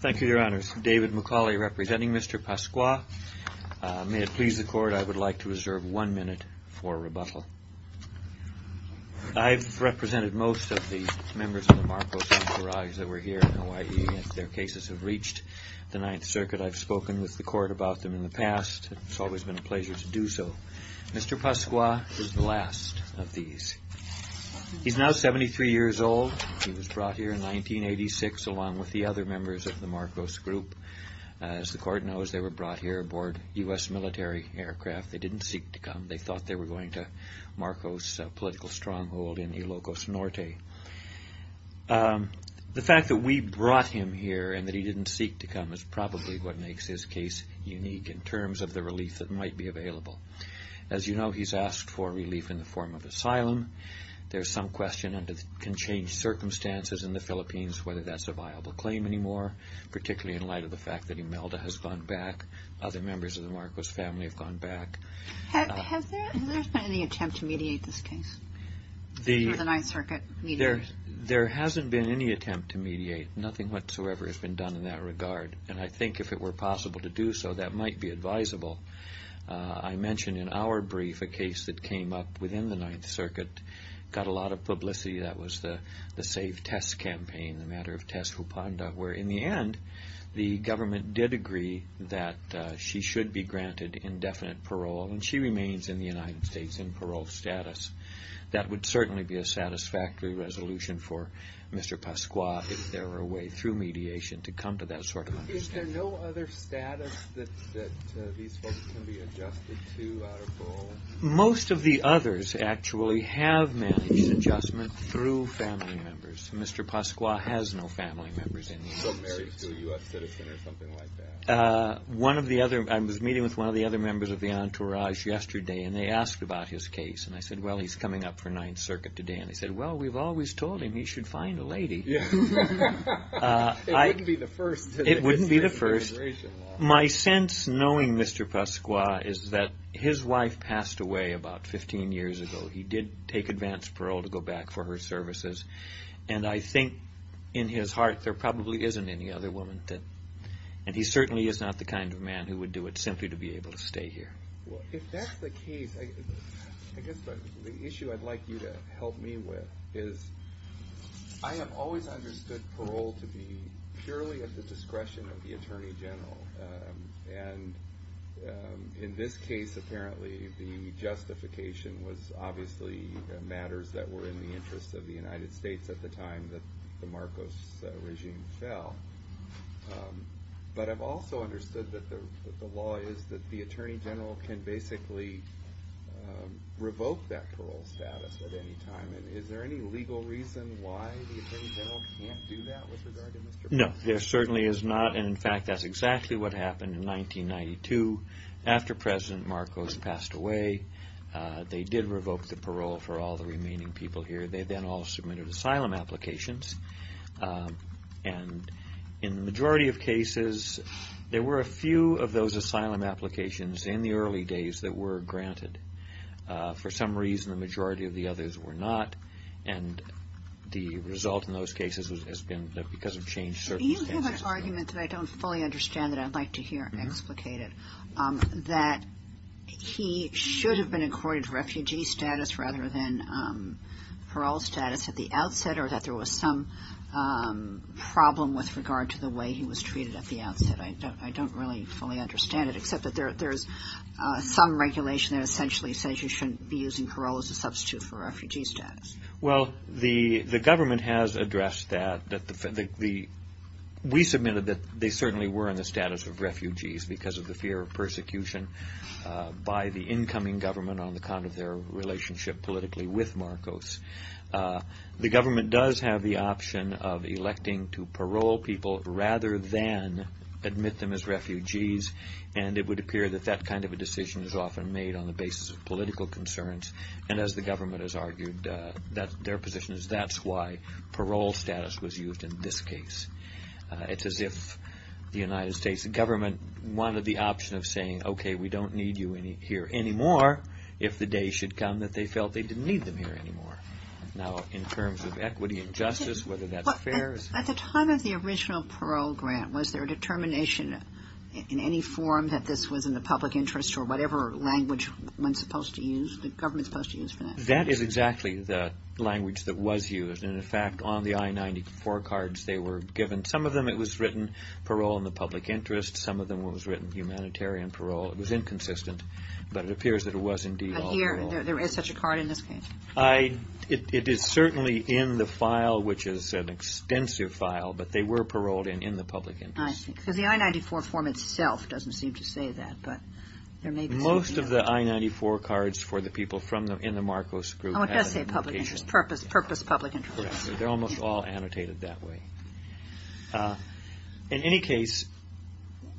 Thank you, Your Honors. David McCauley representing Mr. Pascua. May it please the Court, I would like to reserve one minute for rebuttal. I've represented most of the members of the Marcos Encourage that were here in Hawaii. Their cases have reached the Ninth Circuit. I've spoken with the Court about them in the past. It's always been a pleasure to do so. Mr. Pascua is the last of these. He's now 73 years old. He was brought here in 1986 along with the other members of the Marcos group. As the Court knows, they were brought here aboard U.S. military aircraft. They didn't seek to come. They thought they were going to Marcos political stronghold in Ilocos Norte. The fact that we brought him here and that he didn't seek to come is probably what makes his case unique in terms of the relief that might be available. As you know, he's asked for relief in the form of asylum. There's can change circumstances in the Philippines, whether that's a viable claim anymore, particularly in light of the fact that Imelda has gone back. Other members of the Marcos family have gone back. Has there been any attempt to mediate this case through the Ninth Circuit? There hasn't been any attempt to mediate. Nothing whatsoever has been done in that regard. I think if it were possible to do so, that might be advisable. I mentioned in our brief a case that came up within the Ninth Circuit, got a lot of publicity. That was the Save Tess campaign, the matter of Tess Hupanda, where in the end, the government did agree that she should be granted indefinite parole, and she remains in the United States in parole status. That would certainly be a satisfactory resolution for Mr. Pascua if there were a way through mediation to come to that sort of understanding. Is there no other status that these folks can be adjusted to out of parole? Most of the others actually have managed adjustment through family members. Mr. Pascua has no family members in the United States. So married to a U.S. citizen or something like that? One of the other, I was meeting with one of the other members of the entourage yesterday, and they asked about his case. And I said, well, he's coming up for Ninth Circuit today. And they said, well, we've always told him he should find a lady. It wouldn't be the first. It wouldn't be the first. My sense, knowing Mr. Pascua, is that his wife passed away about 15 years ago. He did take advance parole to go back for her services. And I think in his heart, there probably isn't any other woman. And he certainly is not the kind of man who would do it simply to be able to stay here. Well, if that's the case, I guess the issue I'd like you to help me with is, I have always understood parole to be purely at the discretion of the Attorney General. And in this case, apparently, the justification was obviously matters that were in the interest of the United States at the time that the Marcos regime fell. But I've also understood that the law is that the Attorney General can basically revoke that parole status at any time. And is there any legal reason why the Attorney General can't do that with regard to Mr. Pascua? No, there certainly is not. And in fact, that's exactly what happened in 1992 after President Marcos passed away. They did revoke the parole for all the remaining people here. They then all submitted asylum applications. And in the majority of cases, there were a few of those asylum applications in the early days that were granted. For some reason, the majority of the others were not. And the result in those cases has been because of changed circumstances. Do you have an argument that I don't fully understand that I'd like to hear explicated that he should have been accorded refugee status rather than parole status at the outset, or that there was some problem with regard to the way he was treated at the outset? I don't really fully understand it, except that there's some regulation that essentially says that you shouldn't be using parole as a substitute for refugee status. Well, the government has addressed that. We submitted that they certainly were in the status of refugees because of the fear of persecution by the incoming government on account of their relationship politically with Marcos. The government does have the option of electing to parole people rather than admit them as refugees. And it would address their political concerns. And as the government has argued, their position is that's why parole status was used in this case. It's as if the United States government wanted the option of saying, okay, we don't need you here anymore, if the day should come that they felt they didn't need them here anymore. Now, in terms of equity and justice, whether that's fair. At the time of the original parole grant, was there a determination in any form that this was in the public interest or whatever language one's supposed to use, the government's supposed to use for that? That is exactly the language that was used. And, in fact, on the I-94 cards they were given, some of them it was written parole in the public interest, some of them it was written humanitarian parole. It was inconsistent, but it appears that it was indeed all parole. But here, there is such a card in this case? It is certainly in the file, which is an extensive file, but they were paroled in the public interest. I think. Because the I-94 form itself doesn't seem to say that. Most of the I-94 cards for the people in the Marcos group. Oh, it does say public interest, purpose public interest. They're almost all annotated that way. In any case,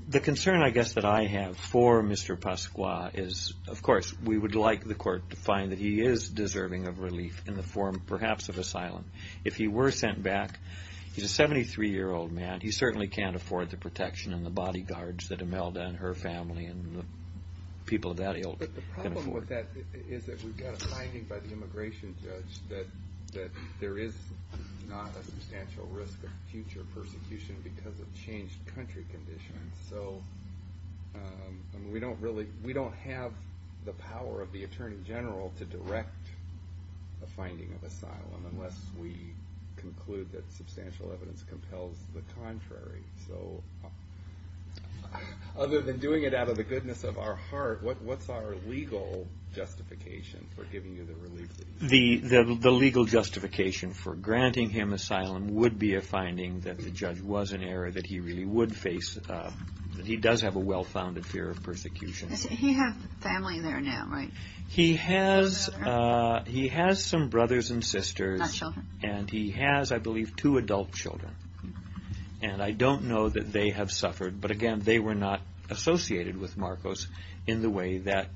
the concern, I guess, that I have for Mr. Pasqua is, of course, we would like the court to find that he is deserving of relief in the form, perhaps, of asylum. If he were sent back, he's a 73-year-old man, he certainly can't afford the protection and the bodyguards that Imelda and her family and the people of that age can afford. The problem with that is that we've got a finding by the immigration judge that there is not a substantial risk of future persecution because of changed country conditions. So, we don't really, we don't have the power of the Attorney General to direct a finding of asylum unless we conclude that substantial evidence compels the contrary. So, other than doing it out of the goodness of our heart, what's our legal justification for giving you the relief? The legal justification for granting him asylum would be a finding that the judge was in error, that he really would face, that he does have a well-founded fear of persecution. He has family there now, right? He has some brothers and sisters and he has, I believe, two adult children. And I don't know that they have suffered, but again, they were not associated with Marcos in the way that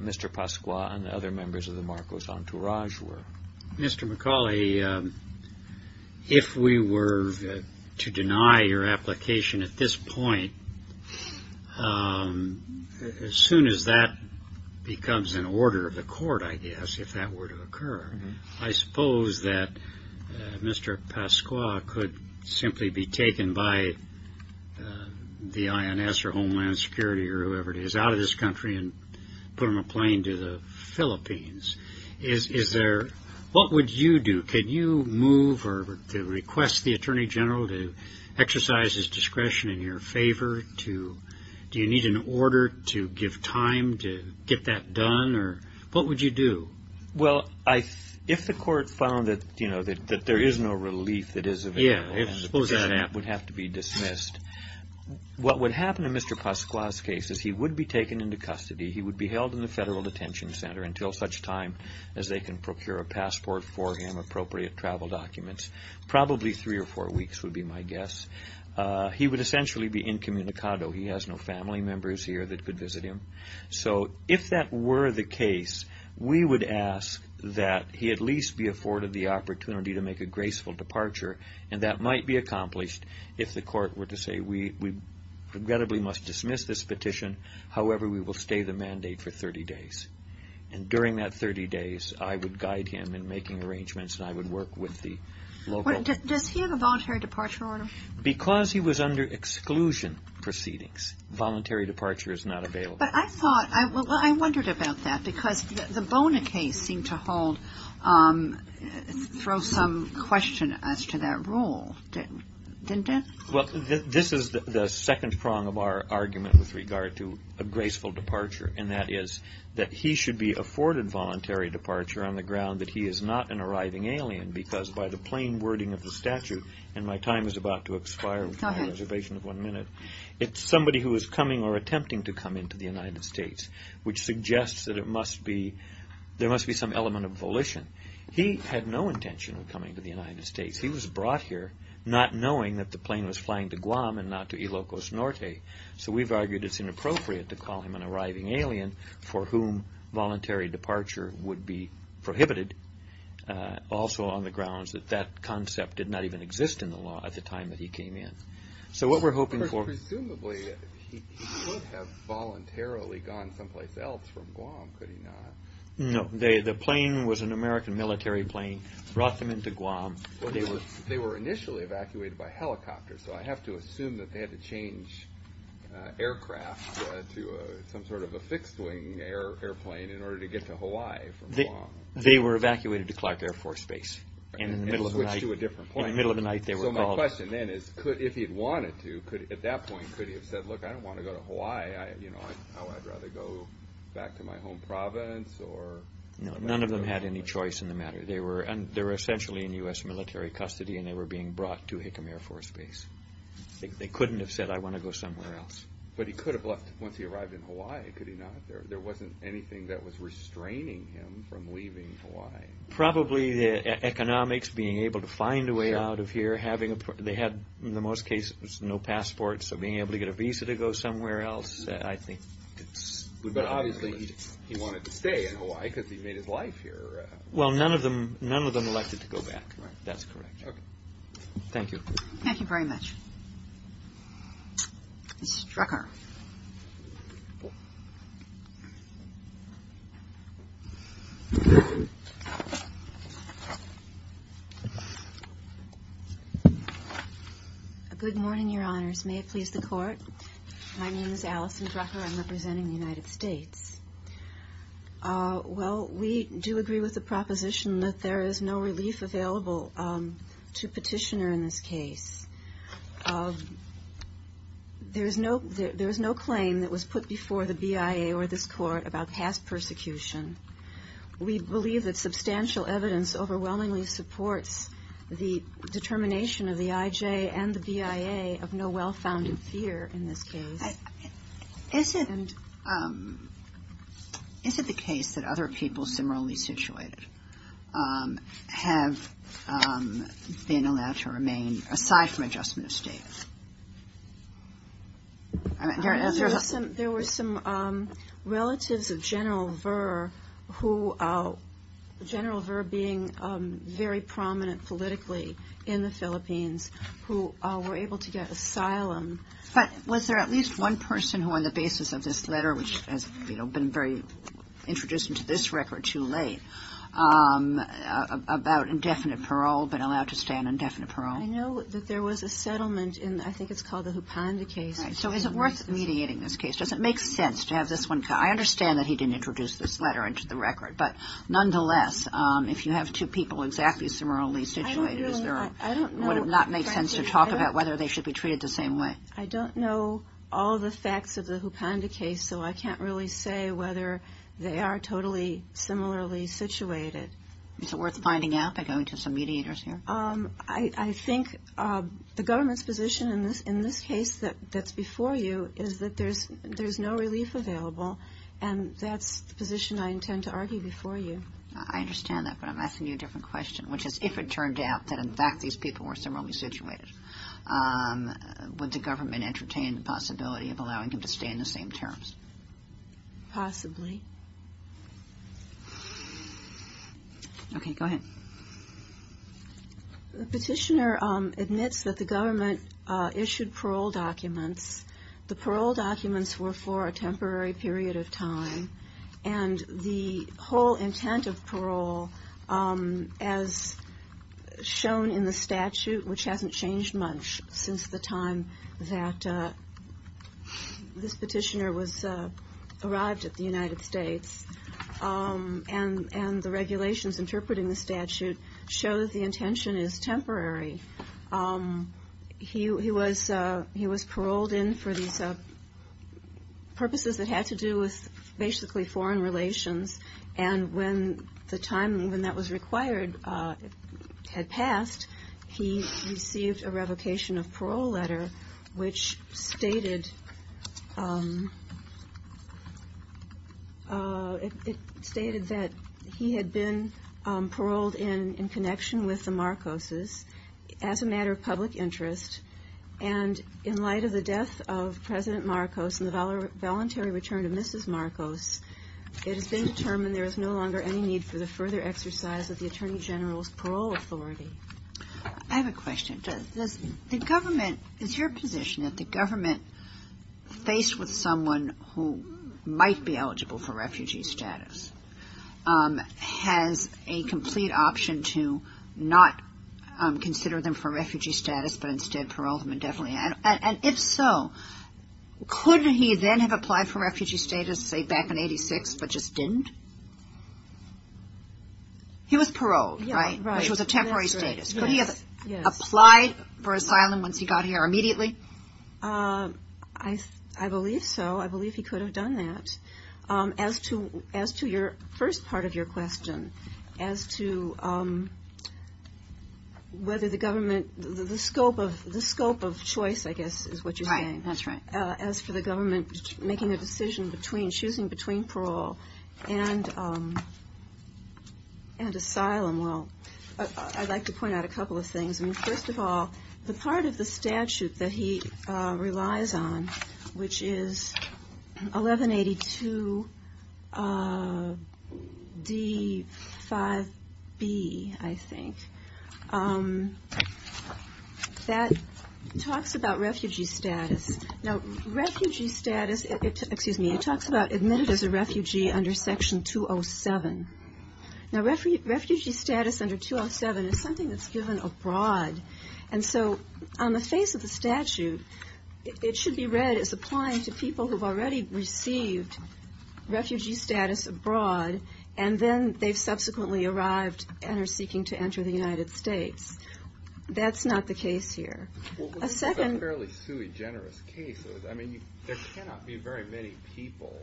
Mr. Pasqua and other members of the Marcos entourage were. Mr. McCauley, if we were to deny your application at this point, as soon as that becomes an order of the court, I guess, if that were to occur, I suppose that Mr. Pasqua could simply be taken by the INS or Homeland Security or whoever it is out of this country and put on a plane to the Philippines. What would you do? Could you move or request the Attorney General to exercise his discretion in your favor? Do you need an order to give time to get that done? What would you do? Well, if the court found that there is no relief that is available, then that would have to be dismissed. What would happen in Mr. Pasqua's case is he would be taken into a federal detention center until such time as they can procure a passport for him, appropriate travel documents. Probably three or four weeks would be my guess. He would essentially be incommunicado. He has no family members here that could visit him. So if that were the case, we would ask that he at least be afforded the opportunity to make a graceful departure and that might be accomplished if the court were to say, we regrettably must dismiss this and during that 30 days, I would guide him in making arrangements and I would work with the local... Does he have a voluntary departure order? Because he was under exclusion proceedings, voluntary departure is not available. But I thought, I wondered about that because the Bona case seemed to hold, throw some question as to that rule, didn't it? Well, this is the second prong of our argument with regard to a graceful departure and that is that he should be afforded voluntary departure on the ground that he is not an arriving alien because by the plain wording of the statute, and my time is about to expire with my reservation of one minute, it's somebody who is coming or attempting to come into the United States which suggests that it must be, there must be some element of volition. He had no intention of coming to the United States. He was brought here not knowing that the plane was flying to Guam and not to Ilocos Norte. So we've argued it's inappropriate to call him an arriving alien for whom voluntary departure would be prohibited also on the grounds that that concept did not even exist in the law at the time that he came in. So what we're hoping for... Presumably, he could have voluntarily gone someplace else from Guam, could he not? No. The plane was an American military plane, brought them into Guam. They were initially evacuated by helicopter, so I have to assume that they had to change aircraft to some sort of a fixed-wing airplane in order to get to Hawaii from Guam. They were evacuated to Clark Air Force Base and in the middle of the night... And switched to a different plane. In the middle of the night, they were called. So my question then is, if he had wanted to, at that point, could he have said, look, I would rather go back to my home province or... No, none of them had any choice in the matter. They were essentially in U.S. military custody and they were being brought to Hickam Air Force Base. They couldn't have said, I want to go somewhere else. But he could have left once he arrived in Hawaii, could he not? There wasn't anything that was restraining him from leaving Hawaii. Probably the economics, being able to find a way out of here. They had, in the most cases, no passports, so being able to get a visa to go somewhere else, I think... But obviously, he wanted to stay in Hawaii because he made his life here. Well, none of them elected to go back. That's correct. Okay. Thank you. Thank you very much. This is Drucker. Good morning, Your Honors. May it please the Court? My name is Allison Drucker. I'm representing the United States. Well, we do agree with the proposition that there is no relief available to petitioner in this case. There is no claim that was put before the BIA or this Court about past persecution. We believe that substantial evidence overwhelmingly supports the determination of the IJ and the BIA of no well-founded fear in this case. Is it the case that other people similarly situated have been allowed to remain aside from adjustment of state? There were some relatives of General Verr, General Verr being very prominent politically in the Philippines, who were able to get asylum. But was there at least one person who, on the basis of this letter, which has been introduced into this record too late, about indefinite parole, been allowed to stay on indefinite parole? I know that there was a settlement in, I think it's called the Hupanda case. So is it worth mediating this case? Does it make sense to have this one guy? I understand that he didn't introduce this letter into the record, but nonetheless, if you have two people exactly similarly situated, would it not make sense to talk about whether they should be treated the same way? I don't know all the facts of the Hupanda case, so I can't really say whether they are totally similarly situated. Is it worth finding out by going to some mediators here? I think the government's position in this case that's before you is that there's no relief available, and that's the position I intend to argue before you. I understand that, but I'm asking you a different question, which is if it turned out that in Would the government entertain the possibility of allowing him to stay in the same terms? Possibly. Okay, go ahead. The petitioner admits that the government issued parole documents. The parole documents were for a temporary period of time, and the whole intent of parole, as shown in the statute which hasn't changed much since the time that this petitioner arrived at the United States, and the regulations interpreting the statute show that the intention is temporary. He was paroled in for these purposes that had to do with basically foreign relations, and when the time when that was required had passed, he received a revocation of parole letter which stated that he had been paroled in connection with the Marcoses as a matter of public interest, and in light of the death of President Marcos and the voluntary return of Mrs. Marcos, it has been determined there is no longer any need for the further exercise of the Attorney General's parole authority. I have a question. Does the government, is your position that the government, faced with someone who might be eligible for refugee status, has a complete option to not consider them for refugee status, but instead parole them indefinitely? And if so, could he then have applied for refugee status, say back in 86, but just didn't? He was paroled, right? Right. Which was a temporary status. Could he have applied for asylum once he got here immediately? I believe so. I believe he could have done that. As to your first part of your question, as to whether the government, the scope of choice, I guess, is what you're saying. Right, that's right. As for the government making a decision between, choosing between parole and asylum, well, I'd like to point out a couple of things. First of all, the part of the statute that he relies on, which is 1182 D5B, I think, that talks about refugee status. Now, refugee status, excuse me, it talks about admitted as a refugee under Section 207. Now, refugee status under 207 is something that's given abroad, and so on the face of the statute, it should be read as applying to people who've already received refugee status abroad, and then they've subsequently arrived and are seeking to enter the United States. That's not the case here. A second- Well, this is a fairly sui generis case. I mean, there cannot be very many people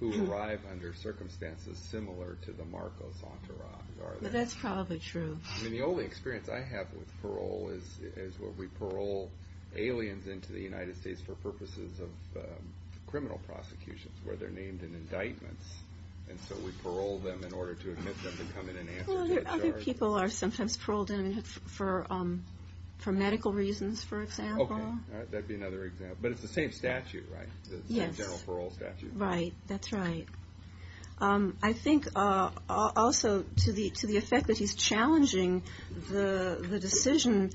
who arrive under circumstances similar to the Marcos entourage, are there? Well, that's probably true. I mean, the only experience I have with parole is where we parole aliens into the United States for purposes of criminal prosecutions, where they're named in indictments, and so we parole them in order to admit them to come in and answer a case. Well, other people are sometimes paroled in for medical reasons, for example. Okay. That would be another example. But it's the same statute, right? Yes. The same general parole statute. Right. That's right. I think also to the effect that he's challenging the decision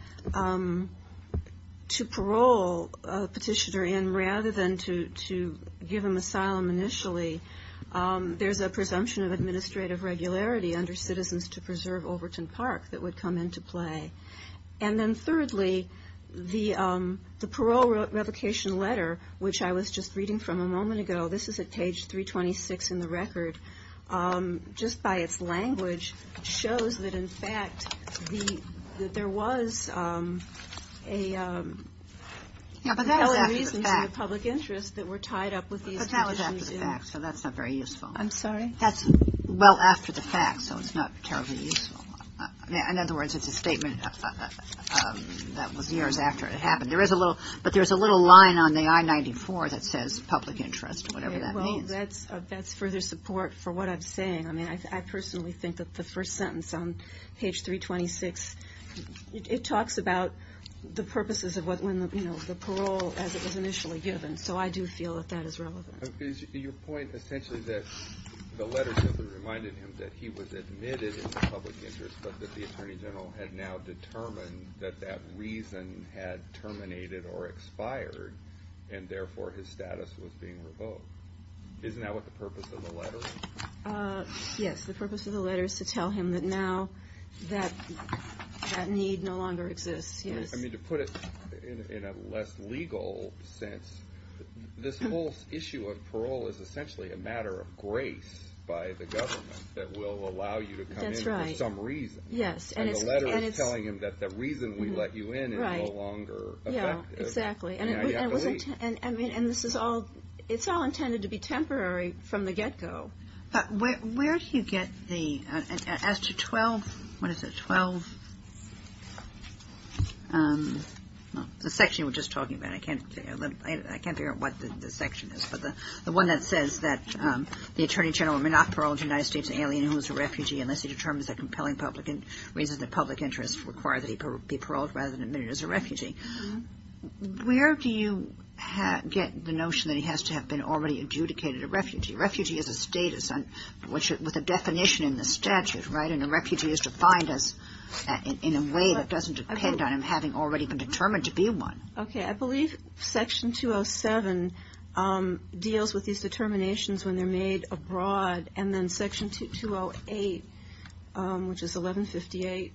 to parole a petitioner in rather than to give him asylum initially, there's a presumption of administrative regularity under Citizens to Preserve Overton Park that would come into play. And then thirdly, the parole revocation letter, which I was just reading from a moment ago, this is at page 326 in the record, just by its language shows that, in fact, there was a compelling reason to the public interest that were tied up with these petitions. But that was after the fact, so that's not very useful. I'm sorry? That's well after the fact, so it's not terribly useful. In other words, it's a statement that was years after it happened. But there's a little line on the I-94 that says public interest, whatever that means. Well, that's further support for what I'm saying. I mean, I personally think that the first sentence on page 326, it talks about the purposes of the parole as it was initially given. So I do feel that that is relevant. Your point essentially is that the letter simply reminded him that he was admitted in the public interest but that the Attorney General had now determined that that reason had terminated or expired, and therefore his status was being revoked. Isn't that what the purpose of the letter is? Yes, the purpose of the letter is to tell him that now that need no longer exists. I mean, to put it in a less legal sense, this whole issue of parole is essentially a matter of grace by the government that will allow you to come in for some reason. And the letter is telling him that the reason we let you in is no longer effective, and you have to leave. And it's all intended to be temporary from the get-go. But where do you get the, as to 12, what is it, 12, the section we're just talking about, I can't figure out what the section is, but the one that says that the Attorney General may not parole a United States alien who is a refugee unless he determines that compelling public interest requires that he be paroled rather than admitted as a refugee. Where do you get the notion that he has to have been already adjudicated a refugee? Refugee is a status with a definition in the statute, right? And a refugee is defined in a way that doesn't depend on him having already been determined to be one. Okay, I believe section 207 deals with these determinations when they're made abroad, and then section 208, which is 1158,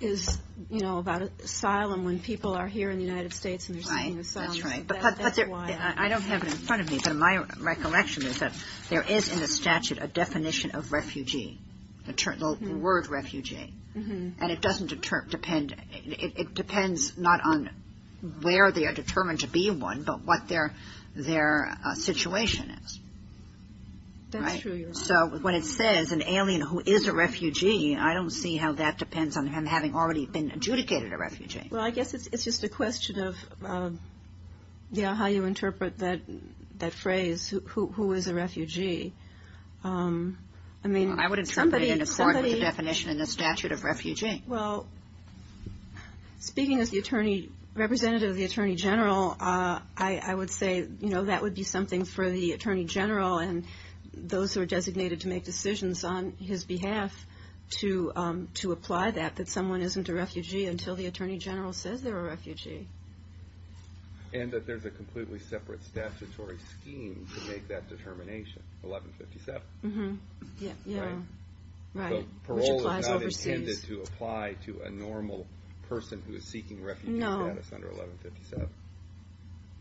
is, you know, about asylum, when people are here in the United States and they're seeking asylum. That's right. I don't have it in front of me, but my recollection is that there is in the statute a definition of refugee, the word refugee. And it doesn't depend, it depends not on where they are determined to be one, but what their situation is. That's true. So when it says an alien who is a refugee, I don't see how that depends on him having already been adjudicated a refugee. Well, I guess it's just a question of how you interpret that phrase, who is a refugee. I would interpret it in accord with the definition in the statute of refugee. Well, speaking as the representative of the Attorney General, I would say, you know, that would be something for the Attorney General and those who are designated to make decisions on his behalf to apply that, that someone isn't a refugee until the Attorney General says they're a refugee. And that there's a completely separate statutory scheme to make that determination, 1157. Yeah, right. Parole is not intended to apply to a normal person who is seeking refugee status under 1157.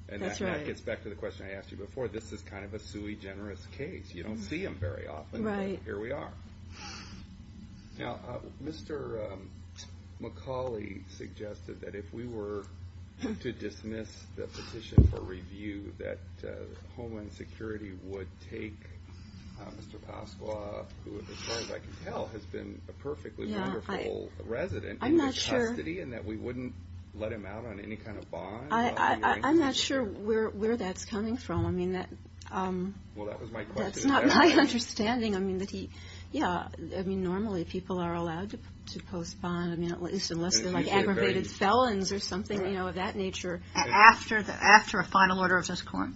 And that gets back to the question I asked you before. This is kind of a sui generis case. You don't see them very often, but here we are. Now, Mr. McCauley suggested that if we were to dismiss the petition for review, that Homeland Security would take Mr. Pasqua, who as far as I can tell has been a perfectly wonderful resident in his custody, and that we wouldn't let him out on any kind of bond? I'm not sure where that's coming from. I mean, that's not my understanding. I mean, normally people are allowed to post bond, at least unless they're like aggravated felons or something of that nature. After a final order of this court?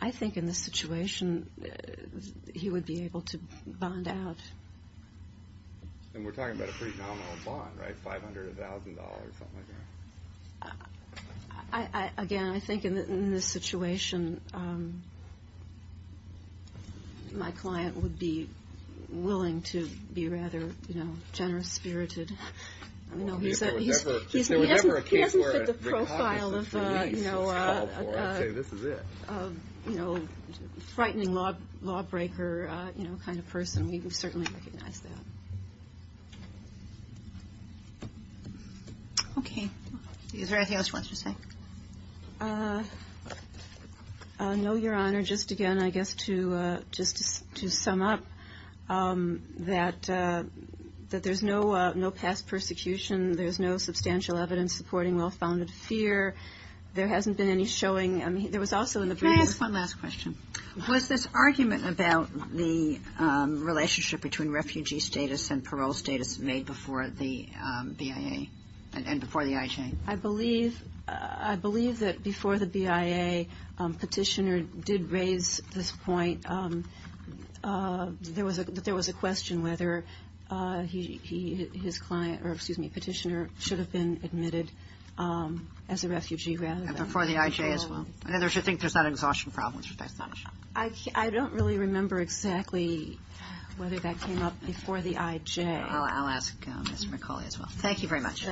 I think in this situation he would be able to bond out. And we're talking about a pretty nominal bond, right? $500, $1,000, something like that? Again, I think in this situation my client would be willing to be rather generous-spirited. He hasn't hit the profile of a frightening lawbreaker kind of person. We certainly recognize that. Okay. Is there anything else you want to say? No, Your Honor. Just again, I guess just to sum up, that there's no past persecution. There's no substantial evidence supporting well-founded fear. There hasn't been any showing. I mean, there was also in the brief. Can I ask one last question? Was this argument about the relationship between refugee status and parole status made before the BIA and before the IJ? I believe that before the BIA, Petitioner did raise this point. There was a question whether his client, or excuse me, Petitioner, should have been admitted as a refugee rather than parole. And before the IJ as well. I think there's that exhaustion problem. I don't really remember exactly whether that came up before the IJ. I'll ask Mr. McCauley as well. Thank you very much.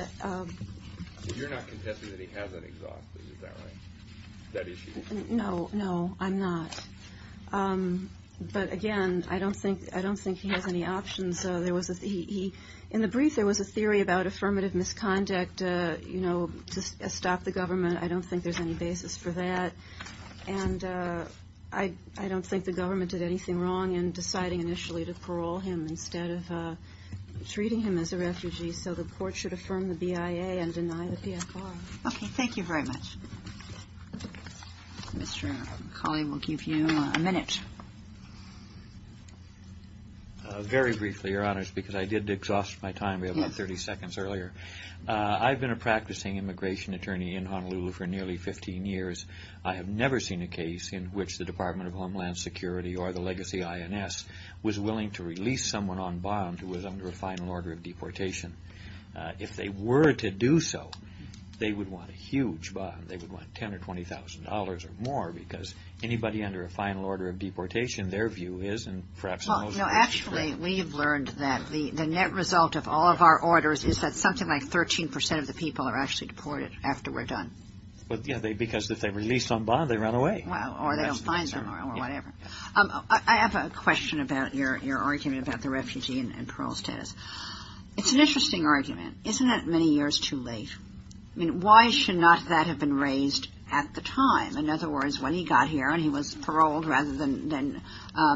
You're not contesting that he hasn't exhausted, is that right, that issue? No, no, I'm not. But again, I don't think he has any options. In the brief, there was a theory about affirmative misconduct to stop the government. I don't think there's any basis for that. And I don't think the government did anything wrong in deciding initially to parole him instead of treating him as a refugee. So the court should affirm the BIA and deny the PFR. Okay, thank you very much. Mr. McCauley, we'll give you a minute. Very briefly, Your Honors, because I did exhaust my time. We have about 30 seconds earlier. I've been a practicing immigration attorney in Honolulu for nearly 15 years. I have never seen a case in which the Department of Homeland Security or the legacy INS was willing to release someone on bond who was under a final order of deportation. If they were to do so, they would want a huge bond. They would want $10,000 or $20,000 or more because anybody under a final order of deportation, their view is and perhaps most of us agree. We've learned that the net result of all of our orders is that something like 13% of the people are actually deported after we're done. Because if they're released on bond, they run away. Or they don't find them or whatever. I have a question about your argument about the refugee and parole status. It's an interesting argument. Isn't that many years too late? I mean, why should not that have been raised at the time? In other words, when he got here and he was paroled rather than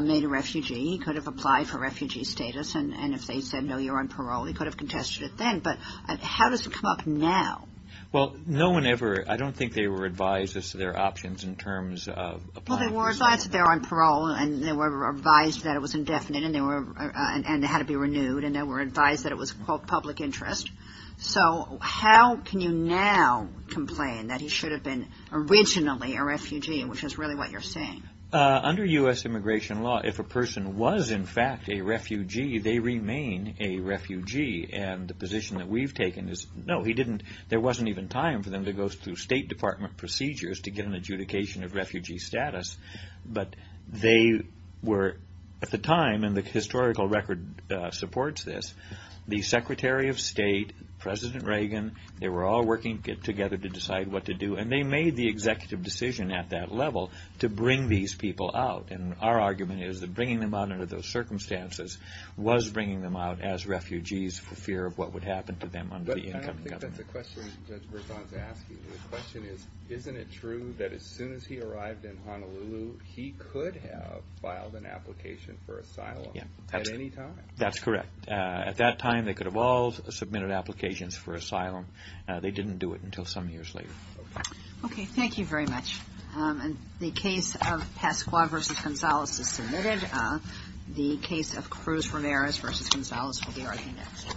made a refugee, he could have applied for refugee status. And if they said, no, you're on parole, he could have contested it then. But how does it come up now? Well, no one ever. I don't think they were advised as to their options in terms of applying. Well, they were advised that they're on parole, and they were advised that it was indefinite, and it had to be renewed, and they were advised that it was, quote, public interest. So how can you now complain that he should have been originally a refugee, which is really what you're saying? Under U.S. immigration law, if a person was, in fact, a refugee, they remain a refugee. And the position that we've taken is, no, he didn't. There wasn't even time for them to go through State Department procedures to get an adjudication of refugee status. But they were, at the time, and the historical record supports this, the Secretary of State, President Reagan, they were all working together to decide what to do, and they made the executive decision at that level to bring these people out. And our argument is that bringing them out under those circumstances was bringing them out as refugees for fear of what would happen to them under the incoming government. But I don't think that's a question Judge Berzon's asking. The question is, isn't it true that as soon as he arrived in Honolulu, he could have filed an application for asylum at any time? That's correct. At that time, they could have all submitted applications for asylum. They didn't do it until some years later. Okay. Thank you very much. The case of Pascua v. Gonzales is submitted. The case of Cruz-Riveras v. Gonzales will be argued next.